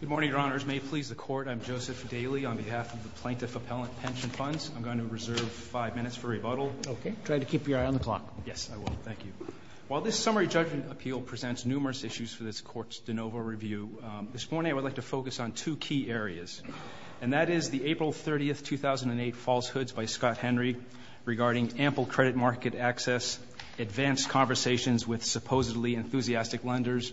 Good morning, Your Honors. May it please the Court, I'm Joseph Daly on behalf of the Plaintiff Appellant Pension Funds. I'm going to reserve five minutes for rebuttal. Okay. Try to keep your eye on the clock. Yes, I will. Thank you. While this summary judgment appeal presents numerous issues for this Court's de novo review, this morning I would like to focus on two key areas, and that is the April 30, 2008 falsehoods by Scott Henry regarding ample credit market access, advanced conversations with supposedly enthusiastic lenders,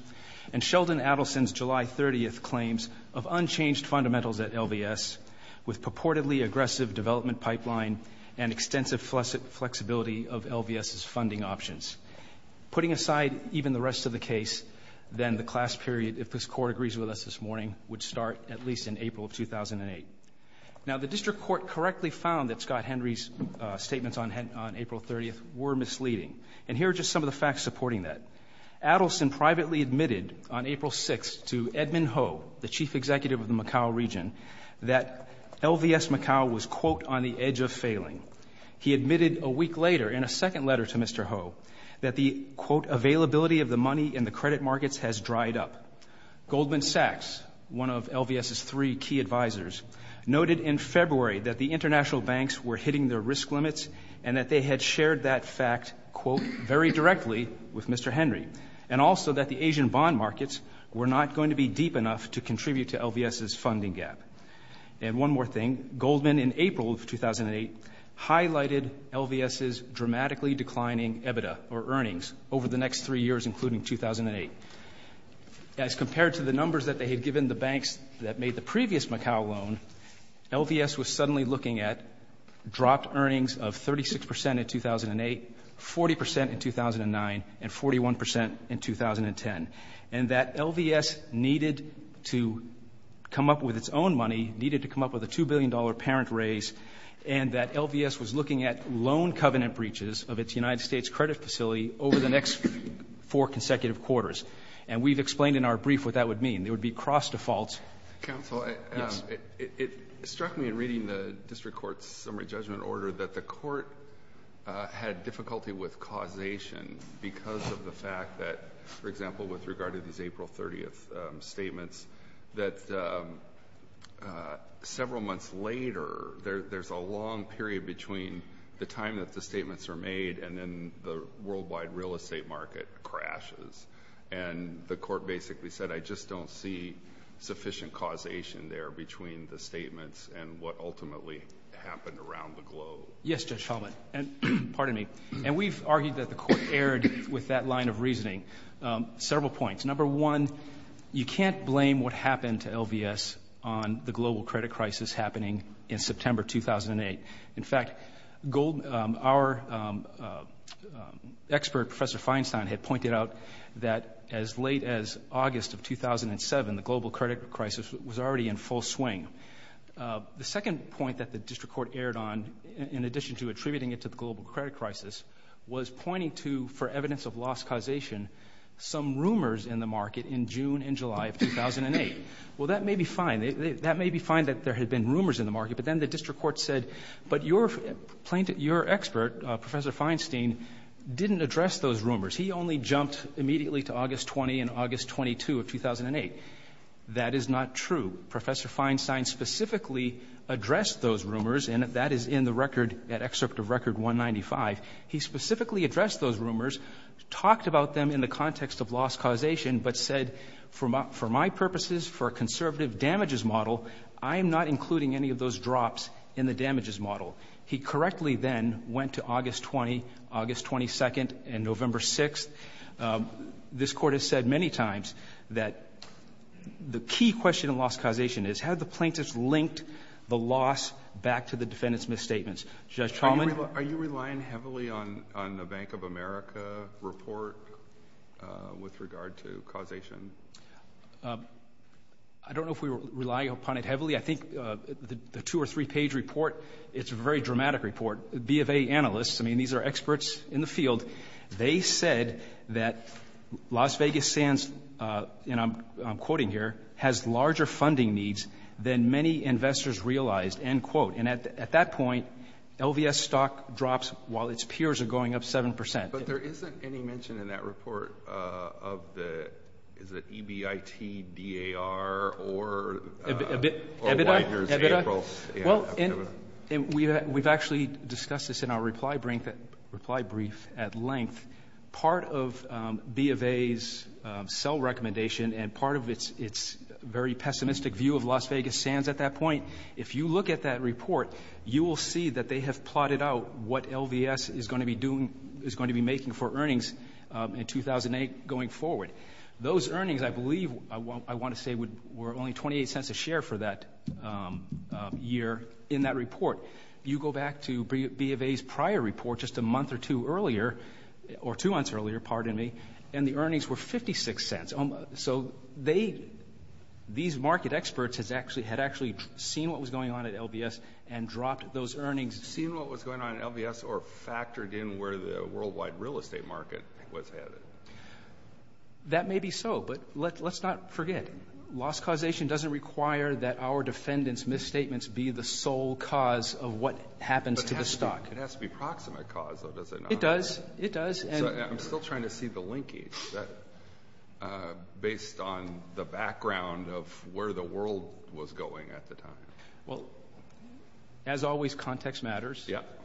and Sheldon Adelson's July 30 claims of unchanged fundamentals at LVS with purportedly aggressive development pipeline and extensive flexibility of LVS's funding options. Putting aside even the rest of the case, then the class period, if this Court agrees with us this morning, would start at least in April 2008. Now, the District Court correctly found that Scott Henry's statements on April 30 were misleading. And here are just some of the facts supporting that. Adelson privately admitted on April 6 to Edmund Ho, the chief executive of the Macau region, that LVS Macau was, quote, on the edge of failing. He admitted a week later in a second letter to Mr. Ho that the, quote, availability of the money in the credit markets has dried up. Goldman Sachs, one of LVS's three key advisors, noted in February that the international banks were hitting their risk limits and that they had shared that fact, quote, very directly with Mr. Henry, and also that the Asian bond markets were not going to be deep enough to contribute to LVS's funding gap. And one more thing, Goldman in April of 2008 highlighted LVS's dramatically declining EBITDA, or earnings, over the next three years, including 2008. As compared to the numbers that they had given the banks that made the previous Macau loan, LVS was suddenly looking at dropped earnings of 36 percent in 2008, 40 percent in 2009, and 41 percent in 2010, and that LVS needed to come up with its own money, needed to come up with a $2 billion parent raise, and that LVS was looking at loan covenant breaches of its United States credit facility over the next four consecutive quarters. And we've explained in our brief what that would mean. It would be cross default. Counsel, it struck me in reading the district court's summary judgment order that the court had difficulty with causation because of the fact that, for example, with regard to these April 30th statements, that several months later, there's a long period between the time that the statements are made and then the worldwide real estate market crashes. And the court basically said, I just don't see sufficient causation there between the statements and what ultimately happened around the globe. Yes, Judge Hellman. And we've argued that the court erred with that line of reasoning. Several points. Number one, you can't blame what happened to LVS on the global credit crisis happening in September 2008. In fact, our expert, Professor Feinstein, had pointed out that as late as August of 2007, the global credit crisis was already in full swing. The second point that the district court erred on, in addition to attributing it to the global credit crisis, was pointing to, for evidence of lost causation, some rumors in the market in June and July of 2008. Well, that may be fine. That may be fine that there had been rumors in the market, but then the district court said, but your expert, Professor Feinstein, didn't address those rumors. He only jumped immediately to August 20 and August 22 of 2008. That is not true. Professor Feinstein specifically addressed those rumors, and that is in the record at Excerpt of Record 195. He specifically addressed those rumors, talked about them in the context of lost causation, but said, for my purposes, for a conservative damages model, I am not including any of those drops in the damages model. He correctly then went to August 20, August 22, and November 6. This Court has said many times that the key question in lost causation is, have the Are you relying heavily on the Bank of America report with regard to causation? I don't know if we rely upon it heavily. I think the two- or three-page report, it's a very dramatic report. B of A analysts, I mean, these are experts in the field. They said that Las Vegas Sands, and I'm quoting here, has larger funding needs than many investors realized, end quote. And at that point, LVS stock drops while its peers are going up 7%. But there isn't any mention in that report of the EBIT, DAR, or Widener's April. We've actually discussed this in our reply brief at length. Part of B of A's sell recommendation and part of its very pessimistic view of Las Vegas Sands at that point, if you look at that report, you will see that they have plotted out what LVS is going to be doing, is going to be making for earnings in 2008 going forward. Those earnings, I believe, I want to say were only $0.28 a share for that year in that report. You go back to B of A's prior report just a month or two earlier, or two months earlier, pardon me, and the earnings were $0.56. So these market experts had actually seen what was going on at LVS and dropped those earnings. Seen what was going on at LVS or factored in where the worldwide real estate market was headed? That may be so, but let's not forget, loss causation doesn't require that our defendants' misstatements be the sole cause of what happens to the stock. It has to be proximate cause, though, does it not? It does. It does. I'm still trying to see the linkage based on the background of where the world was going at the time. Well, as always, context matters. Yep.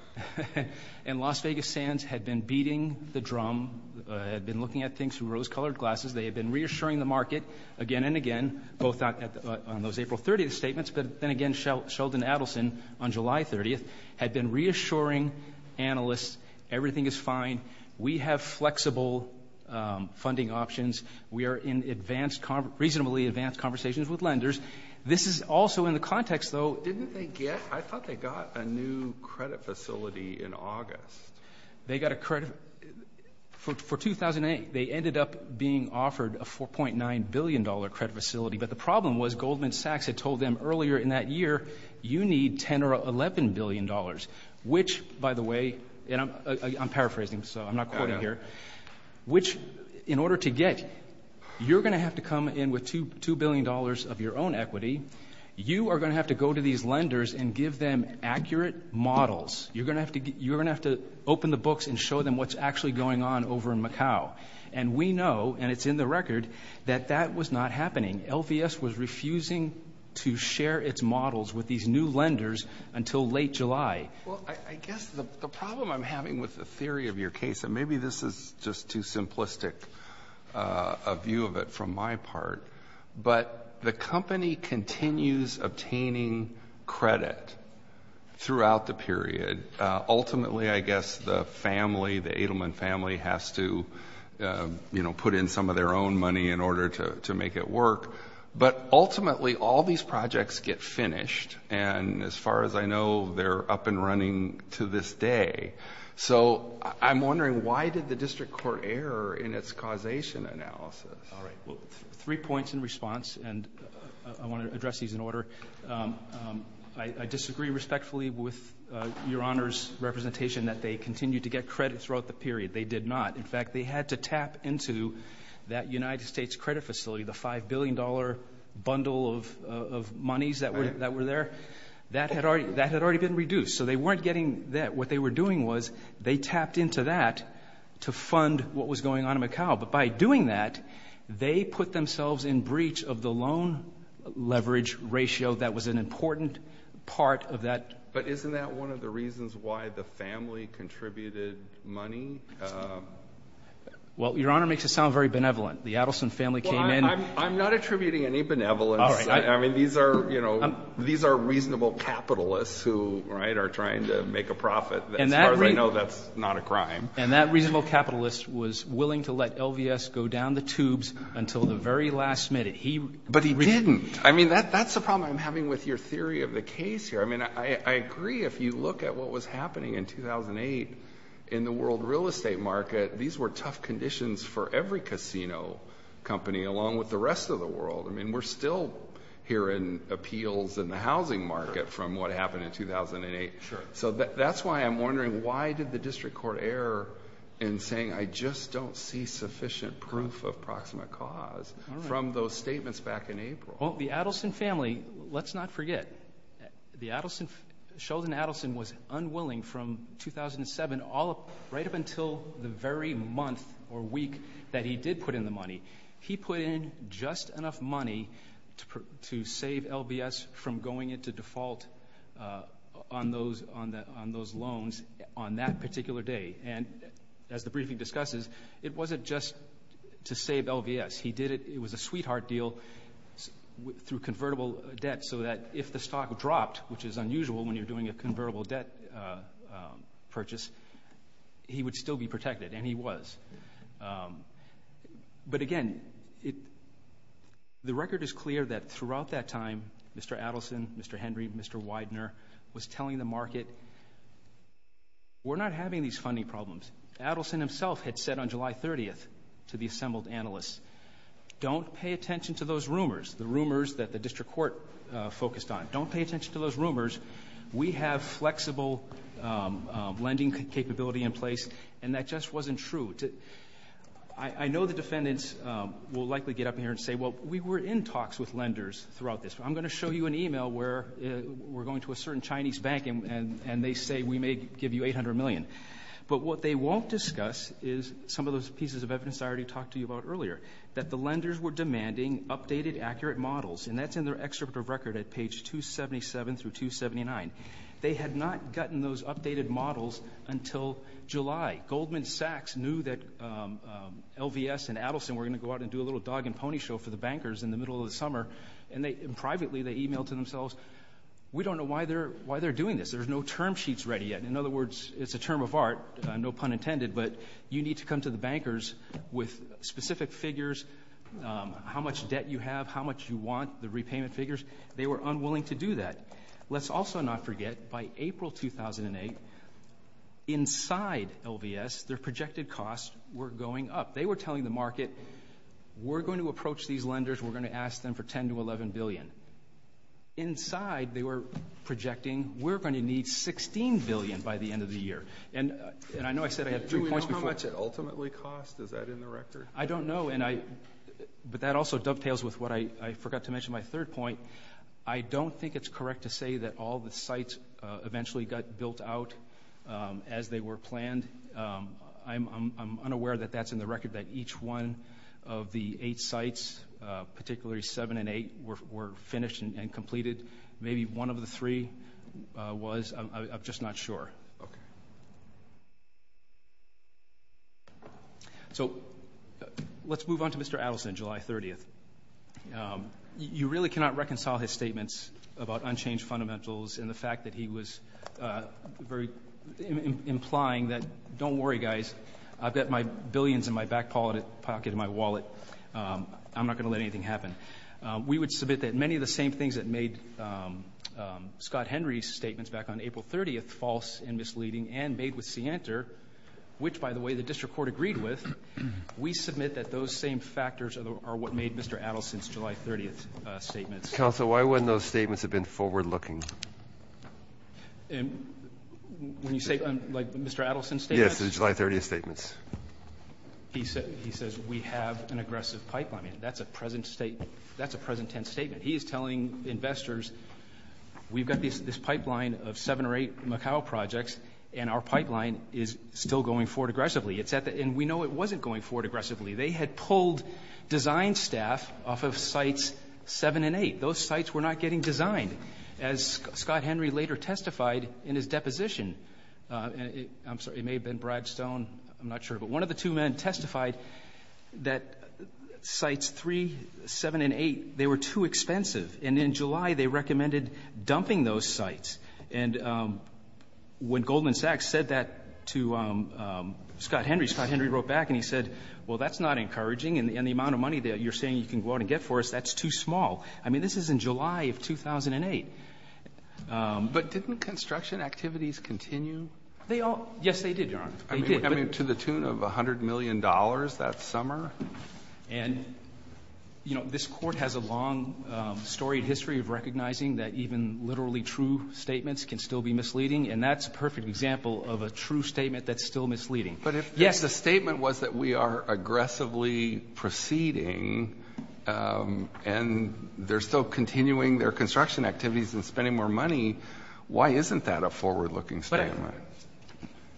And Las Vegas Sands had been beating the drum, had been looking at things through rose-colored glasses. They had been reassuring the market again and again, both on those April 30th statements, but then again Sheldon Adelson on July 30th had been reassuring analysts everything is fine. We have flexible funding options. We are in advanced, reasonably advanced conversations with lenders. This is also in the context, though. Didn't they get? I thought they got a new credit facility in August. They got a credit for 2008. They ended up being offered a $4.9 billion credit facility, but the problem was Goldman Sachs had told them earlier in that year you need $10 billion or $11 billion, which, by the way, and I'm paraphrasing, so I'm not quoting here, which in order to get, you're going to have to come in with $2 billion of your own equity. You are going to have to go to these lenders and give them accurate models. You're going to have to open the books and show them what's actually going on over in Macau. And we know, and it's in the record, that that was not happening. LVS was refusing to share its models with these new lenders until late July. Well, I guess the problem I'm having with the theory of your case, and maybe this is just too simplistic a view of it from my part, but the company continues obtaining credit throughout the period. Ultimately, I guess the family, the Edelman family, has to put in some of their own money in order to make it work. But ultimately, all these projects get finished, and as far as I know, they're up and running to this day. So I'm wondering, why did the district court err in its causation analysis? All right. Well, three points in response, and I want to address these in order. I disagree respectfully with Your Honor's representation that they continued to get credit throughout the period. They did not. In fact, they had to tap into that United States credit facility, the $5 billion bundle of monies that were there. That had already been reduced. So they weren't getting that. What they were doing was they tapped into that to fund what was going on in Macau. But by doing that, they put themselves in breach of the loan leverage ratio that was an important part of that. But isn't that one of the reasons why the family contributed money? Well, Your Honor makes it sound very benevolent. The Adelson family came in. Well, I'm not attributing any benevolence. All right. I mean, these are reasonable capitalists who, right, are trying to make a profit. As far as I know, that's not a crime. And that reasonable capitalist was willing to let LVS go down the tubes until the very last minute. But he didn't. I mean, that's the problem I'm having with your theory of the case here. I mean, I agree if you look at what was happening in 2008 in the world real estate market, these were tough conditions for every casino company along with the rest of the world. I mean, we're still hearing appeals in the housing market from what happened in 2008. Sure. So that's why I'm wondering why did the district court err in saying, I just don't see sufficient proof of proximate cause from those statements back in April? Well, the Adelson family, let's not forget, Sheldon Adelson was unwilling from 2007 right up until the very month or week that he did put in the money. He put in just enough money to save LVS from going into default on those loans on that particular day. And as the briefing discusses, it wasn't just to save LVS. He did it. It was a sweetheart deal through convertible debt so that if the stock dropped, which is unusual when you're doing a convertible debt purchase, he would still be protected, and he was. But, again, the record is clear that throughout that time, Mr. Adelson, Mr. Henry, Mr. Widener was telling the market, we're not having these funding problems. Adelson himself had said on July 30th to the assembled analysts, don't pay attention to those rumors, the rumors that the district court focused on. Don't pay attention to those rumors. We have flexible lending capability in place, and that just wasn't true. I know the defendants will likely get up here and say, well, we were in talks with lenders throughout this. I'm going to show you an e-mail where we're going to a certain Chinese bank, and they say we may give you $800 million. But what they won't discuss is some of those pieces of evidence I already talked to you about earlier, that the lenders were demanding updated, accurate models, and that's in their excerpt of record at page 277 through 279. They had not gotten those updated models until July. Goldman Sachs knew that LVS and Adelson were going to go out and do a little dog and pony show for the bankers in the middle of the summer, and privately they e-mailed to themselves, we don't know why they're doing this. There's no term sheets ready yet. In other words, it's a term of art, no pun intended, but you need to come to the bankers with specific figures, how much debt you have, how much you want, the repayment figures. They were unwilling to do that. Let's also not forget, by April 2008, inside LVS, their projected costs were going up. They were telling the market, we're going to approach these lenders, we're going to ask them for $10 billion to $11 billion. Inside, they were projecting, we're going to need $16 billion by the end of the year. And I know I said I had three points before. Do we know how much it ultimately cost? Is that in the record? I don't know, but that also dovetails with what I forgot to mention, my third point. I don't think it's correct to say that all the sites eventually got built out as they were planned. I'm unaware that that's in the record, that each one of the eight sites, particularly seven and eight, were finished and completed. Maybe one of the three was. I'm just not sure. Okay. So let's move on to Mr. Adelson, July 30th. You really cannot reconcile his statements about unchanged fundamentals and the fact that he was very implying that, don't worry, guys. I've got my billions in my back pocket of my wallet. I'm not going to let anything happen. We would submit that many of the same things that made Scott Henry's statements back on April 30th false and misleading and made with Sienter, which, by the way, the district court agreed with, we submit that those same factors are what made Mr. Adelson's July 30th statements. Counsel, why wouldn't those statements have been forward-looking? When you say, like, Mr. Adelson's statements? Yes, the July 30th statements. He says we have an aggressive pipeline. That's a present statement. That's a present tense statement. He is telling investors we've got this pipeline of seven or eight Macau projects, and our pipeline is still going forward aggressively. It's at the end. We know it wasn't going forward aggressively. They had pulled design staff off of Sites 7 and 8. Those sites were not getting designed, as Scott Henry later testified in his deposition. I'm sorry. It may have been Brad Stone. I'm not sure. But one of the two men testified that Sites 3, 7, and 8, they were too expensive. And in July, they recommended dumping those sites. And when Goldman Sachs said that to Scott Henry, Scott Henry wrote back and he said, well, that's not encouraging. And the amount of money that you're saying you can go out and get for us, that's too small. I mean, this is in July of 2008. But didn't construction activities continue? They all — yes, they did, Your Honor. They did. I mean, to the tune of $100 million that summer? And, you know, this Court has a long-storied history of recognizing that even literally true statements can still be misleading. And that's a perfect example of a true statement that's still misleading. Yes. But if the statement was that we are aggressively proceeding and they're still continuing their construction activities and spending more money, why isn't that a forward-looking statement?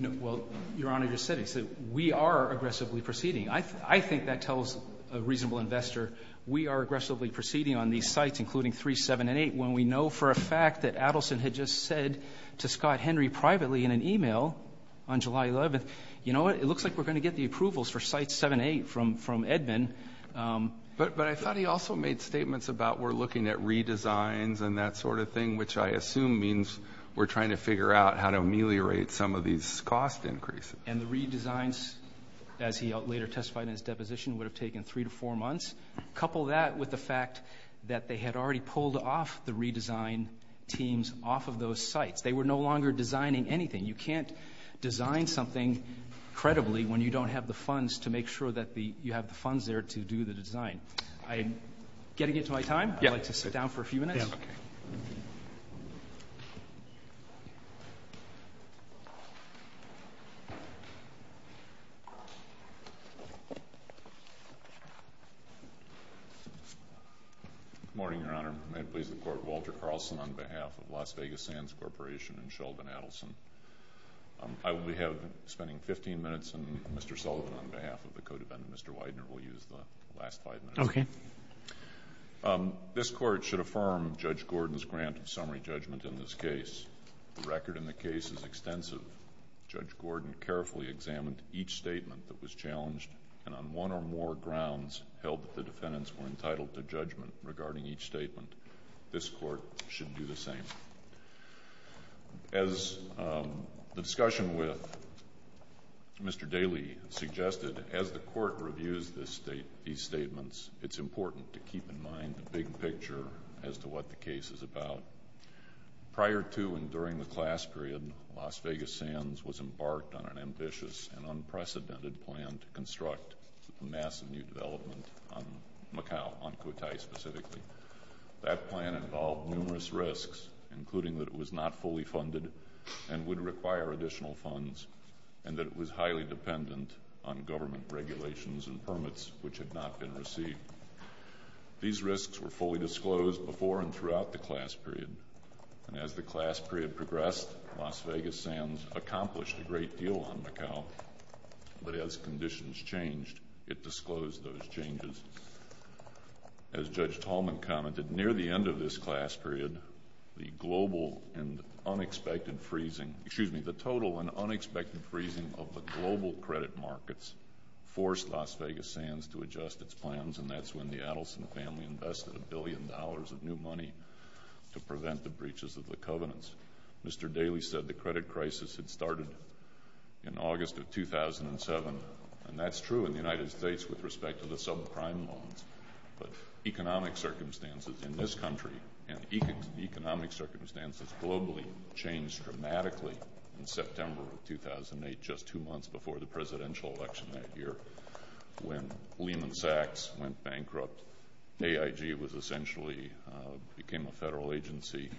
Well, Your Honor just said it. We are aggressively proceeding. I think that tells a reasonable investor we are aggressively proceeding on these sites, including 3, 7, and 8, when we know for a fact that Adelson had just said to Scott Henry privately in an email on July 11th, you know what, it looks like we're going to get the approvals for sites 7 and 8 from Edmund. But I thought he also made statements about we're looking at redesigns and that sort of thing, which I assume means we're trying to figure out how to ameliorate some of these cost increases. And the redesigns, as he later testified in his deposition, would have taken 3 to 4 months. Couple that with the fact that they had already pulled off the redesign teams off of those sites. They were no longer designing anything. You can't design something credibly when you don't have the funds to make sure that you have the funds there to do the design. I'm getting into my time. I'd like to sit down for a few minutes. Okay. Good morning, Your Honor. May it please the Court, Walter Carlson on behalf of Las Vegas Sands Corporation and Sheldon Adelson. I will be spending 15 minutes, and Mr. Sullivan on behalf of the codefendant, Mr. Widener, will use the last five minutes. Okay. This Court should affirm Judge Gordon's grant of summary judgment in this case. The record in the case is extensive. Judge Gordon carefully examined each statement that was challenged, and on one or more grounds held that the defendants were entitled to judgment regarding each statement. This Court should do the same. As the discussion with Mr. Daley suggested, as the Court reviews these statements, it's important to keep in mind the big picture as to what the case is about. Prior to and during the class period, Las Vegas Sands was embarked on an ambitious and unprecedented plan to construct a massive new development on Macau, on Cotai specifically. That plan involved numerous risks, including that it was not fully funded and would require additional funds, and that it was highly dependent on government regulations and permits which had not been received. These risks were fully disclosed before and throughout the class period, and as the class period progressed, Las Vegas Sands accomplished a great deal on Macau, but as conditions changed, it disclosed those changes. As Judge Tallman commented, near the end of this class period, the total and unexpected freezing of the global credit markets forced Las Vegas Sands to adjust its plans, and that's when the Adelson family invested a billion dollars of new money to prevent the breaches of the covenants. Mr. Daley said the credit crisis had started in August of 2007, and that's true in the United States with respect to the subprime loans, but economic circumstances in this country and economic circumstances globally changed dramatically in September of 2008, just two months before the presidential election that year, when Lehman Sachs went bankrupt, AIG became a federal agency,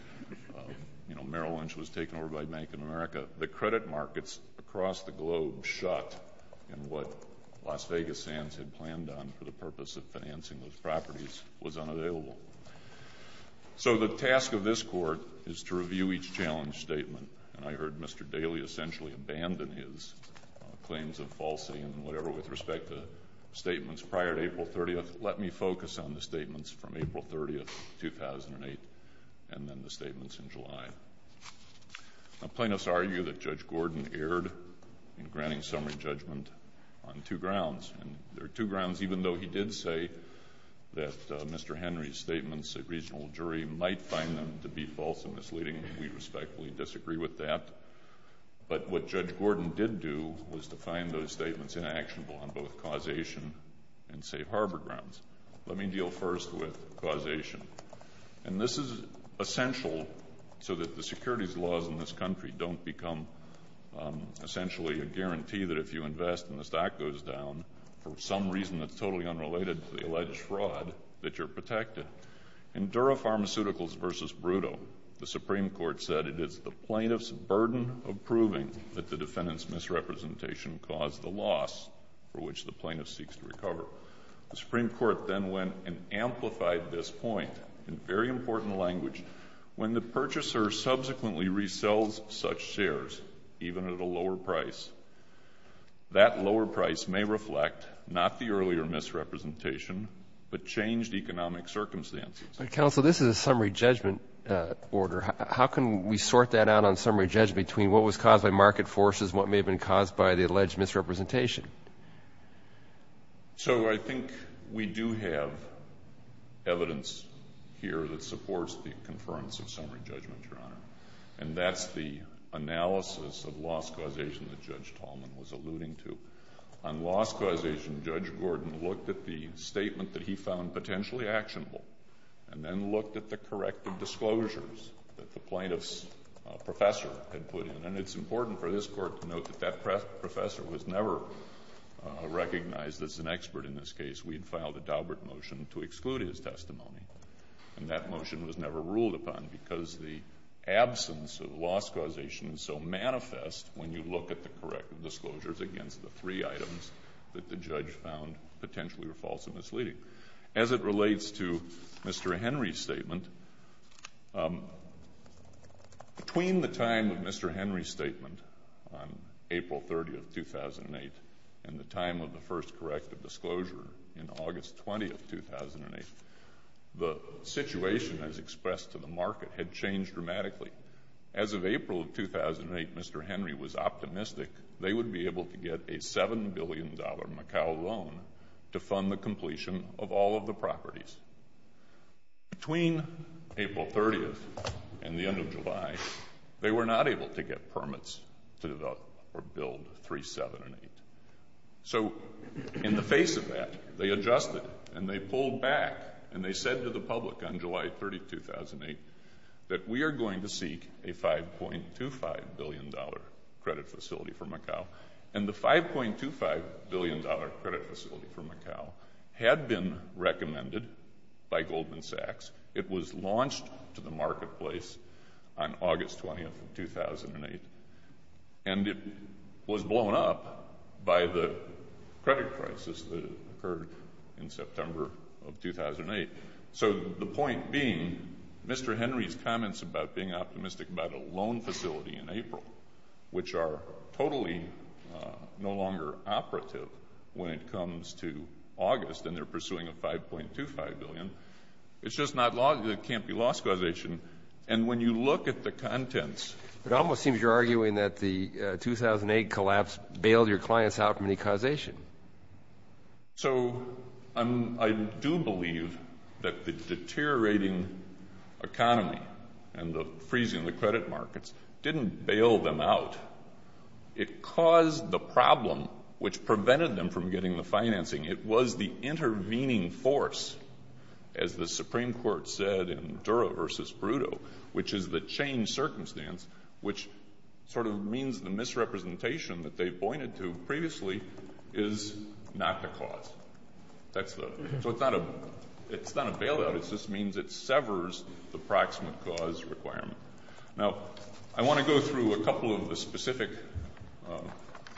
Merrill Lynch was taken over by Bank of America. The credit markets across the globe shot in what Las Vegas Sands had planned on for the purpose of financing those properties was unavailable. So the task of this Court is to review each challenge statement, and I heard Mr. Daley essentially abandon his claims of falsity and whatever with respect to statements prior to April 30th. Let me focus on the statements from April 30th, 2008, and then the statements in July. Plaintiffs argue that Judge Gordon erred in granting summary judgment on two grounds, and there are two grounds even though he did say that Mr. Henry's statements, a regional jury, might find them to be false and misleading. We respectfully disagree with that. But what Judge Gordon did do was to find those statements inactionable on both causation and safe harbor grounds. Let me deal first with causation, and this is essential so that the securities laws in this country don't become essentially a guarantee that if you invest and the stock goes down for some reason that's totally unrelated to the alleged fraud that you're protected. In Dura Pharmaceuticals v. Brutto, the Supreme Court said it is the plaintiff's burden of proving that the defendant's misrepresentation caused the loss for which the plaintiff seeks to recover. The Supreme Court then went and amplified this point in very important language. When the purchaser subsequently resells such shares, even at a lower price, that lower price may reflect not the earlier misrepresentation, but changed economic circumstances. Counsel, this is a summary judgment order. How can we sort that out on summary judgment between what was caused by market forces and what may have been caused by the alleged misrepresentation? So I think we do have evidence here that supports the conference of summary judgment, Your Honor. And that's the analysis of loss causation that Judge Tallman was alluding to. On loss causation, Judge Gordon looked at the statement that he found potentially actionable and then looked at the corrective disclosures that the plaintiff's professor had put in. And it's important for this Court to note that that professor was never recognized as an expert in this case. We had filed a Daubert motion to exclude his testimony, and that motion was never ruled upon because the absence of loss causation is so manifest when you look at the corrective disclosures against the three items that the judge found potentially were false and misleading. Between the time of Mr. Henry's statement on April 30th, 2008, and the time of the first corrective disclosure in August 20th, 2008, the situation as expressed to the market had changed dramatically. As of April of 2008, Mr. Henry was optimistic they would be able to get a $7 billion Macau loan to fund the completion of all of the properties. Between April 30th and the end of July, they were not able to get permits to develop or build 3, 7, and 8. So in the face of that, they adjusted, and they pulled back, and they said to the public on July 30th, 2008, that we are going to seek a $5.25 billion credit facility for Macau. And the $5.25 billion credit facility for Macau had been recommended by Goldman Sachs. It was launched to the marketplace on August 20th, 2008, and it was blown up by the credit crisis that occurred in September of 2008. So the point being, Mr. Henry's comments about being optimistic about a loan facility in April, which are totally no longer operative when it comes to August and they're pursuing a $5.25 billion, it's just not logical. It can't be loss causation. And when you look at the contents. It almost seems you're arguing that the 2008 collapse bailed your clients out from any causation. So I do believe that the deteriorating economy and the freezing of the credit markets didn't bail them out. It caused the problem, which prevented them from getting the financing. It was the intervening force, as the Supreme Court said in Dura v. Brutto, which is the change circumstance, which sort of means the misrepresentation that they pointed to previously is not the cause. So it's not a bailout. It just means it severs the proximate cause requirement. Now, I want to go through a couple of the specific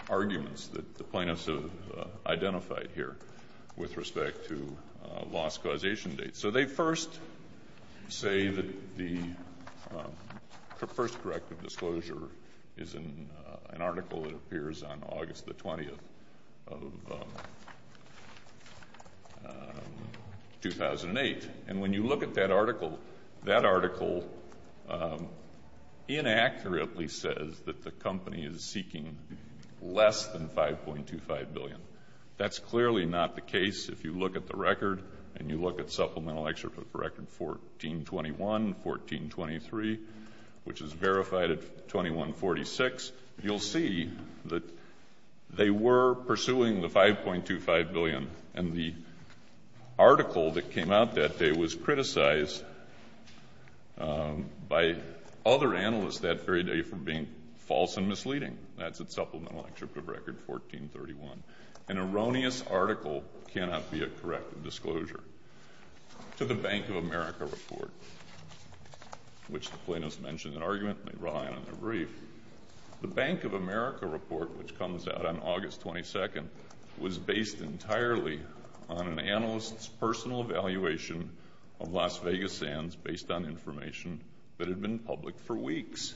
arguments that the plaintiffs have identified here with respect to loss causation dates. So they first say that the first corrective disclosure is an article that appears on August the 20th of 2008. And when you look at that article, that article inaccurately says that the company is seeking less than $5.25 billion. That's clearly not the case. If you look at the record and you look at Supplemental Excerpt of Record 1421, 1423, which is verified at 2146, you'll see that they were pursuing the $5.25 billion. And the article that came out that day was criticized by other analysts that very day for being false and misleading. That's at Supplemental Excerpt of Record 1431. An erroneous article cannot be a corrective disclosure. To the Bank of America report, which the plaintiffs mentioned in argument and they brought out in their brief, the Bank of America report, which comes out on August 22nd, was based entirely on an analyst's personal evaluation of Las Vegas sands based on information that had been public for weeks.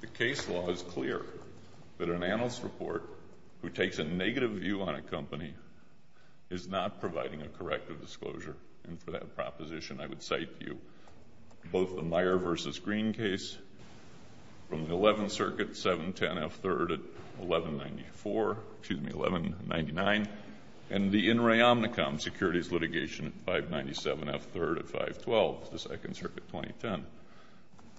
The case law is clear that an analyst's report who takes a negative view on a company is not providing a corrective disclosure. And for that proposition, I would cite to you both the Meyer v. Green case from the 11th Circuit, 710 F. 3rd at 1194, excuse me, 1199, and the In re Omnicom securities litigation at 597 F. 3rd at 512, the 2nd Circuit 2010.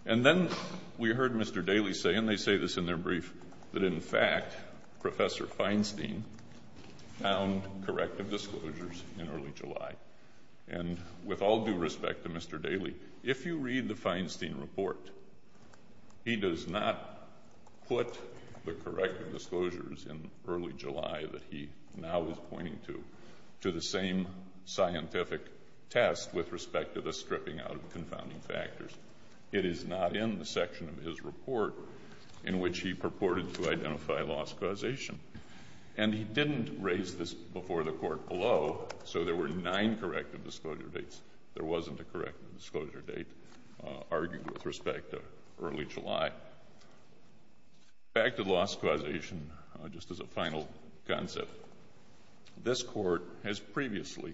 And then we heard Mr. Daly say, and they say this in their brief, that in fact, Professor Feinstein found corrective disclosures in early July. And with all due respect to Mr. Daly, if you read the Feinstein report, he does not put the corrective disclosures in early July that he now is pointing to, to the same scientific test with respect to the stripping out of confounding factors. It is not in the section of his report in which he purported to identify loss causation. And he didn't raise this before the Court below, so there were nine corrective disclosure dates. There wasn't a corrective disclosure date argued with respect to early July. Back to loss causation, just as a final concept. This Court has previously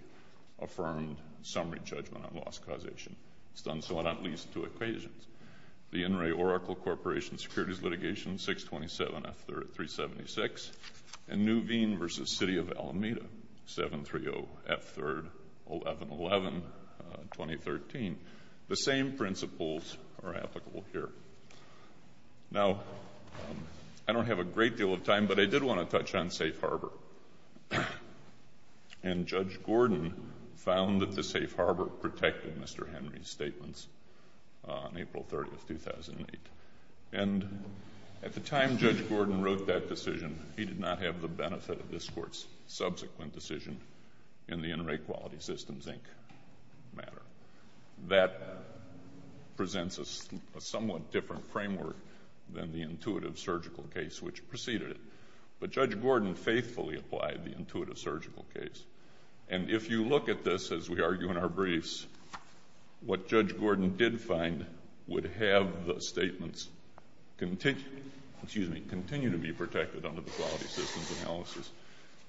affirmed summary judgment on loss causation. It's done so on at least two equations, the In re Oracle Corporation securities litigation, 627 F. 3rd at 376, and Nuveen v. City of Alameda, 730 F. 3rd, 1111, 2013. The same principles are applicable here. Now, I don't have a great deal of time, but I did want to touch on Safe Harbor. And Judge Gordon found that the Safe Harbor protected Mr. Henry's statements on April 30, 2008. And at the time Judge Gordon wrote that decision, he did not have the benefit of this Court's subsequent decision in the In Re Quality Systems, Inc. matter. That presents a somewhat different framework than the intuitive surgical case which preceded it. But Judge Gordon faithfully applied the intuitive surgical case. And if you look at this as we argue in our briefs, what Judge Gordon did find would have the statements continue to be protected under the quality systems analysis.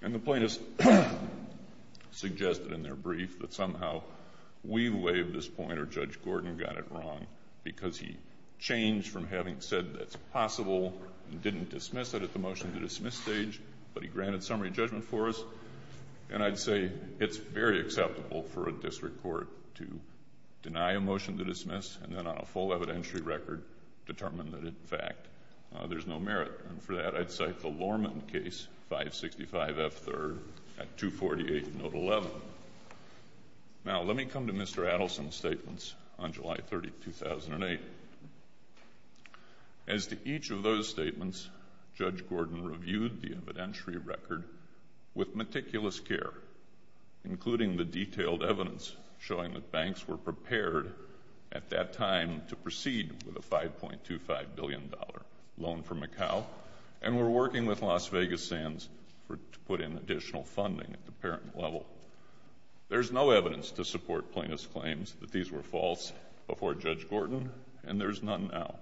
And the plaintiffs suggested in their brief that somehow we waived this point or Judge Gordon got it wrong because he changed from having said that's possible and didn't dismiss it at the motion to dismiss stage, but he granted summary judgment for us. And I'd say it's very acceptable for a district court to deny a motion to dismiss and then on a full evidentiary record determine that, in fact, there's no merit. And for that, I'd cite the Lorman case, 565 F. 3rd, at 248 Note 11. Now, let me come to Mr. Adelson's statements on July 30, 2008. As to each of those statements, Judge Gordon reviewed the evidentiary record with meticulous care, including the detailed evidence showing that banks were prepared at that time to proceed with a $5.25 billion loan from Macau and were working with Las Vegas Sands to put in additional funding at the parent level. There's no evidence to support plaintiffs' claims that these were false before Judge Gordon, and there's none now.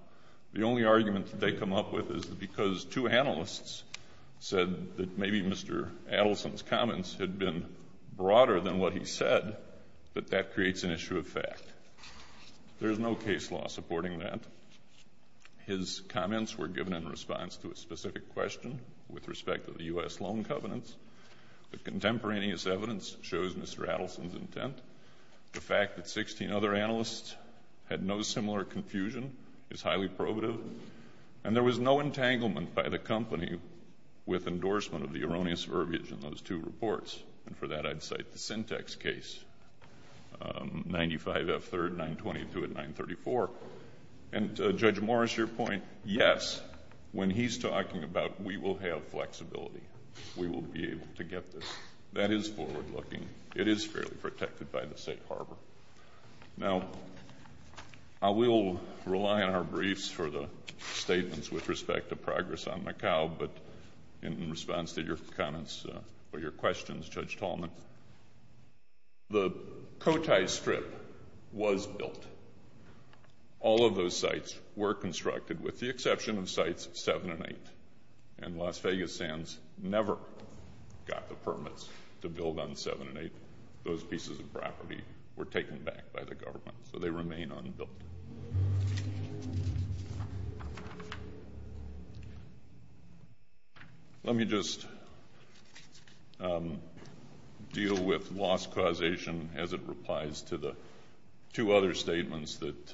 The only argument that they come up with is that because two analysts said that maybe Mr. Adelson's comments had been broader than what he said, that that creates an issue of fact. There's no case law supporting that. His comments were given in response to a specific question with respect to the U.S. loan covenants. The contemporaneous evidence shows Mr. Adelson's intent. The fact that 16 other analysts had no similar confusion is highly probative. And there was no entanglement by the company with endorsement of the erroneous verbiage in those two reports. And for that, I'd cite the Syntex case, 95 F. 3rd, 922 at 934. And Judge Morris, your point, yes, when he's talking about we will have flexibility. We will be able to get this. That is forward-looking. It is fairly protected by the State Harbor. Now, I will rely on our briefs for the statements with respect to progress on Macau, but in response to your comments or your questions, Judge Tallman, the Cotai Strip was built. All of those sites were constructed with the exception of Sites 7 and 8, and Las Vegas Sands never got the permits to build on 7 and 8. Those pieces of property were taken back by the government, so they remain unbuilt. Let me just deal with loss causation as it replies to the two other statements that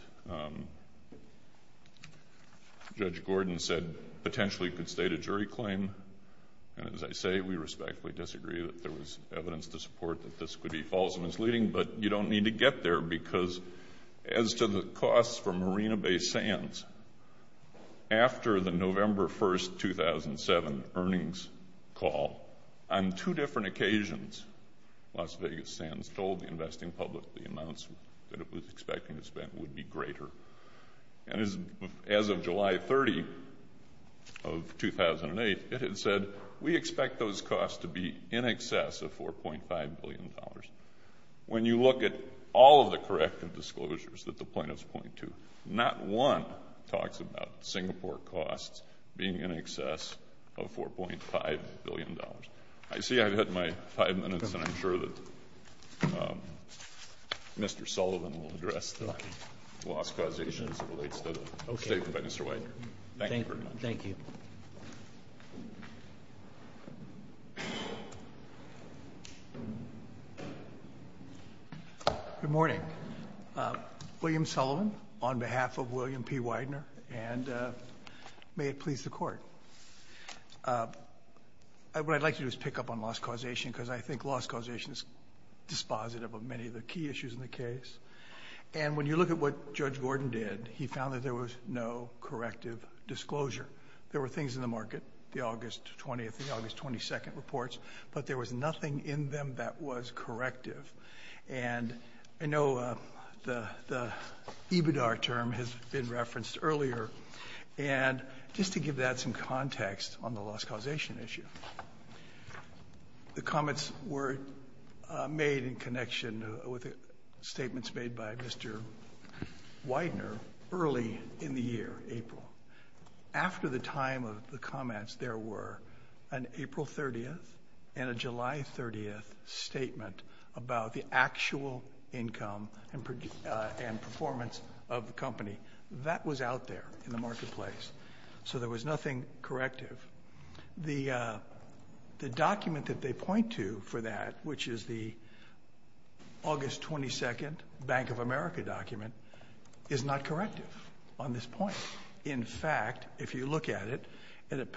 Judge Gordon said potentially could state a jury claim. And as I say, we respectfully disagree that there was evidence to support that this could be false and misleading, but you don't need to get there because as to the costs for Marina Bay Sands, after the November 1st, 2007 earnings call, on two different occasions, Las Vegas Sands told the investing public the amounts that it was expecting to spend would be greater. And as of July 30 of 2008, it had said, we expect those costs to be in excess of $4.5 billion. When you look at all of the corrective disclosures that the plaintiffs point to, not one talks about Singapore costs being in excess of $4.5 billion. I see I've hit my five minutes, and I'm sure that Mr. Sullivan will address the loss causation as it relates to the statement by Mr. Widener. Thank you very much. Thank you. Good morning. William Sullivan on behalf of William P. Widener, and may it please the Court. What I'd like to do is pick up on loss causation because I think loss causation is dispositive of many of the key issues in the case. And when you look at what Judge Gordon did, he found that there was no corrective disclosure. There were things in the market, the August 20th and August 22nd reports, but there was nothing in them that was corrective. And I know the EBIDAR term has been referenced earlier, and just to give that some context on the loss causation issue, the comments were made in connection with statements made by Mr. Widener early in the year, April. After the time of the comments, there were an April 30th and a July 30th statement about the actual income and performance of the company. That was out there in the marketplace, so there was nothing corrective. The document that they point to for that, which is the August 22nd Bank of America document, is not corrective on this point. In fact, if you look at it, the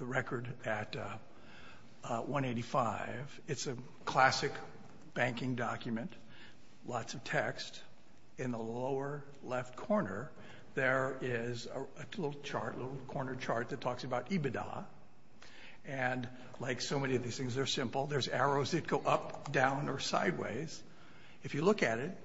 record at 185, it's a classic banking document, lots of text. In the lower left corner, there is a little chart, a little corner chart that talks about EBIDAR. And like so many of these things, they're simple. There's arrows that go up, down, or sideways. If you look at it,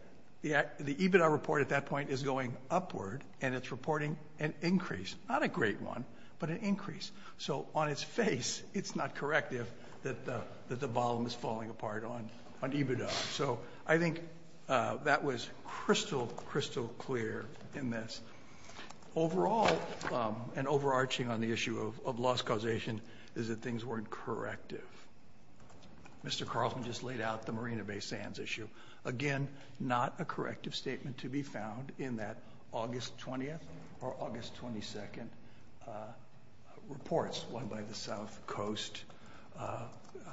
the EBIDAR report at that point is going upward, and it's reporting an increase. Not a great one, but an increase. So on its face, it's not corrective that the volume is falling apart on EBIDAR. So I think that was crystal, crystal clear in this. Overall, and overarching on the issue of loss causation, is that things weren't corrective. Mr. Carlson just laid out the Marina Bay Sands issue. Again, not a corrective statement to be found in that August 20th or August 22nd reports, one by the South Coast,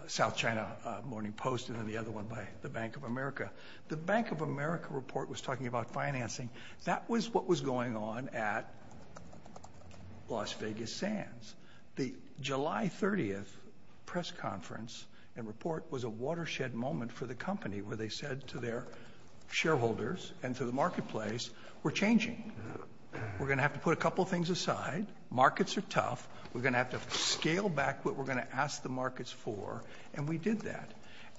South China Morning Post, and then the other one by the Bank of America. The Bank of America report was talking about financing. That was what was going on at Las Vegas Sands. The July 30th press conference and report was a watershed moment for the company, where they said to their shareholders and to the marketplace, we're changing. We're going to have to put a couple things aside. Markets are tough. We're going to have to scale back what we're going to ask the markets for, and we did that.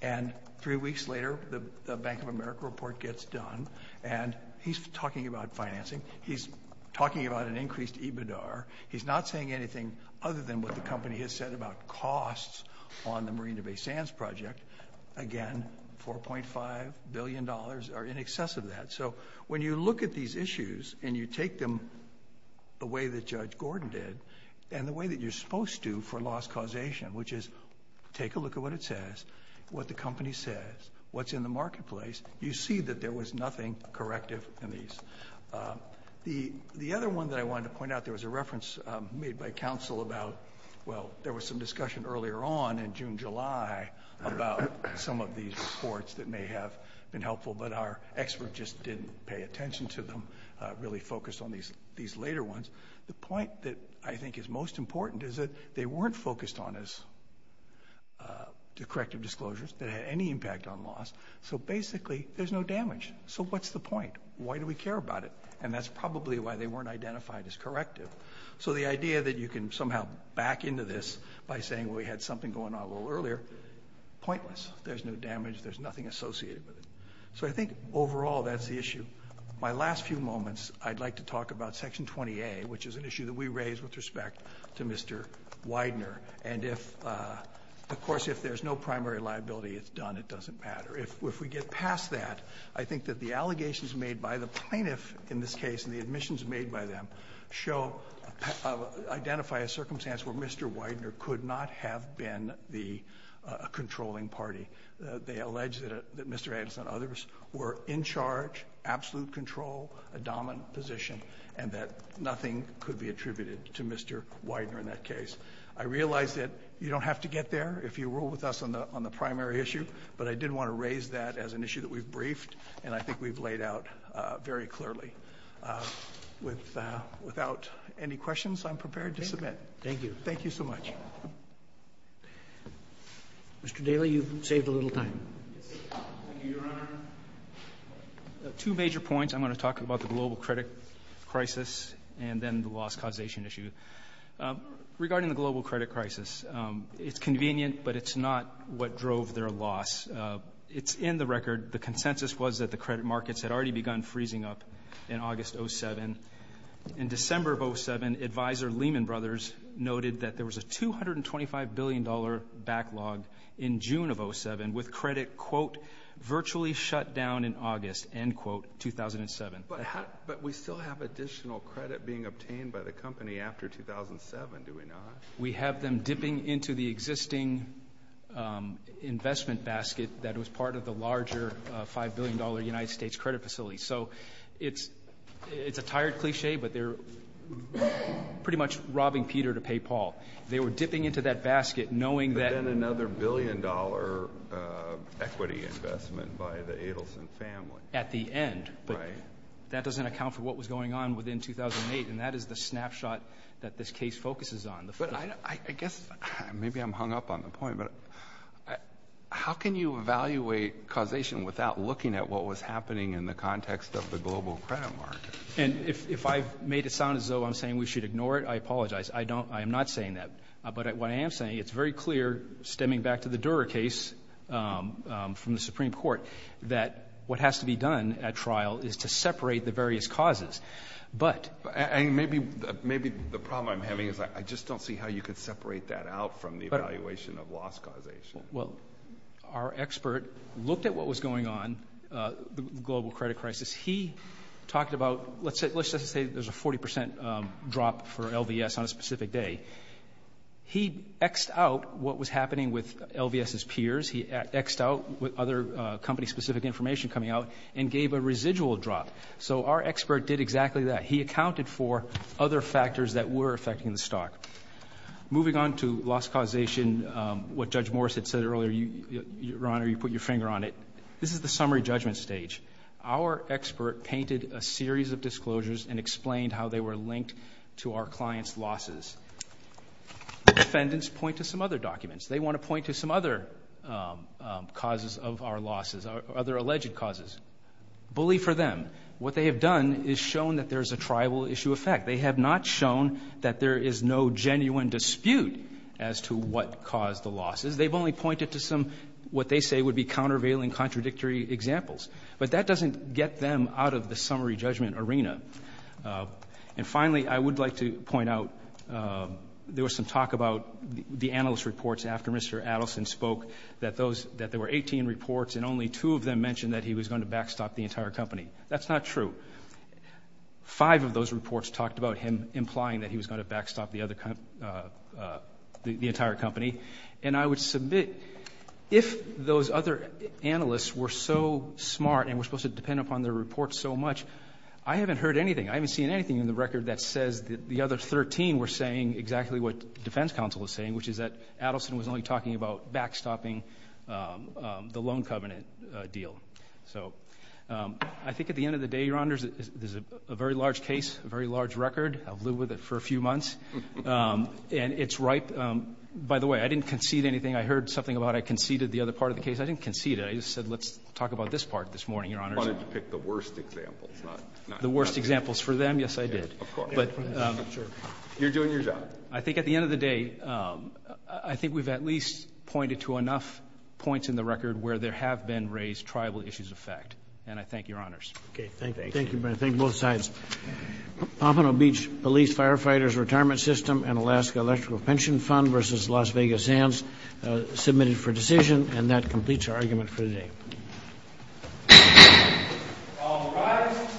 And three weeks later, the Bank of America report gets done, and he's talking about financing. He's talking about an increased EBIDAR. He's not saying anything other than what the company has said about costs on the Marina Bay Sands project. Again, $4.5 billion are in excess of that. So when you look at these issues and you take them the way that Judge Gordon did and the way that you're supposed to for loss causation, which is take a look at what it says, what the company says, what's in the marketplace, you see that there was nothing corrective in these. The other one that I wanted to point out, there was a reference made by counsel about, well, there was some discussion earlier on in June-July about some of these reports that may have been helpful, but our expert just didn't pay attention to them, really focused on these later ones. The point that I think is most important is that they weren't focused on as corrective disclosures. They didn't have any impact on loss. So basically, there's no damage. So what's the point? Why do we care about it? And that's probably why they weren't identified as corrective. So the idea that you can somehow back into this by saying, well, we had something going on a little earlier, pointless. There's no damage. There's nothing associated with it. So I think, overall, that's the issue. My last few moments, I'd like to talk about Section 20A, which is an issue that we raised with respect to Mr. Widener. And if, of course, if there's no primary liability, it's done. It doesn't matter. If we get past that, I think that the allegations made by the plaintiff in this case, and the admissions made by them, show, identify a circumstance where Mr. Widener could not have been the controlling party. They allege that Mr. Anderson and others were in charge, absolute control, a dominant position, and that nothing could be attributed to Mr. Widener in that case. I realize that you don't have to get there if you rule with us on the primary issue, but I did want to raise that as an issue that we've briefed and I think we've laid out very clearly. Without any questions, I'm prepared to submit. Thank you. Thank you so much. Mr. Daly, you've saved a little time. Thank you, Your Honor. Two major points. I'm going to talk about the global credit crisis and then the loss causation issue. Regarding the global credit crisis, it's convenient, but it's not what drove their loss. It's in the record. The consensus was that the credit markets had already begun freezing up in August 2007. In December of 2007, Advisor Lehman Brothers noted that there was a $225 billion backlog in June of 2007 with credit, quote, virtually shut down in August, end quote, 2007. But we still have additional credit being obtained by the company after 2007, do we not? We have them dipping into the existing investment basket that was part of the larger $5 billion United States credit facility. So it's a tired cliché, but they're pretty much robbing Peter to pay Paul. They were dipping into that basket knowing that ---- But then another billion-dollar equity investment by the Adelson family. At the end. Right. But that doesn't account for what was going on within 2008, and that is the snapshot that this case focuses on. But I guess maybe I'm hung up on the point, but how can you evaluate causation without looking at what was happening in the context of the global credit market? And if I've made it sound as though I'm saying we should ignore it, I apologize. I don't ---- I am not saying that. But what I am saying, it's very clear, stemming back to the Dura case from the Supreme Court, that what has to be done at trial is to separate the various causes. But ---- Maybe the problem I'm having is I just don't see how you could separate that out from the evaluation of loss causation. Well, our expert looked at what was going on, the global credit crisis. He talked about, let's just say there's a 40 percent drop for LVS on a specific day. He X'd out what was happening with LVS's peers. He X'd out with other company-specific information coming out and gave a residual drop. So our expert did exactly that. He accounted for other factors that were affecting the stock. Moving on to loss causation, what Judge Morris had said earlier, Your Honor, you put your finger on it. This is the summary judgment stage. Our expert painted a series of disclosures and explained how they were linked to our client's losses. The defendants point to some other documents. They want to point to some other causes of our losses, other alleged causes. Bully for them. What they have done is shown that there's a tribal issue effect. They have not shown that there is no genuine dispute as to what caused the losses. They've only pointed to some, what they say would be countervailing, contradictory examples. But that doesn't get them out of the summary judgment arena. And finally, I would like to point out there was some talk about the analyst reports after Mr. Adelson spoke that there were 18 reports and only two of them mentioned that he was going to backstop the entire company. That's not true. Five of those reports talked about him implying that he was going to backstop the entire company. And I would submit if those other analysts were so smart and were supposed to depend upon their reports so much, I haven't heard anything. I haven't seen anything in the record that says that the other 13 were saying exactly what the defense counsel was saying, which is that Adelson was only talking about backstopping the loan covenant deal. So I think at the end of the day, Your Honors, there's a very large case, a very large record. I've lived with it for a few months. And it's ripe. By the way, I didn't concede anything. I heard something about I conceded the other part of the case. I didn't concede it. I just said let's talk about this part this morning, Your Honors. You wanted to pick the worst examples. The worst examples for them? Yes, I did. Of course. You're doing your job. I think at the end of the day, I think we've at least pointed to enough points in the record where there have been raised tribal issues of fact. And I thank Your Honors. Okay. Thank you. Thank you both sides. Pompano Beach Police Firefighters Retirement System and Alaska Electrical Pension Fund versus Las Vegas Zans submitted for decision. And that completes our argument for today. All rise.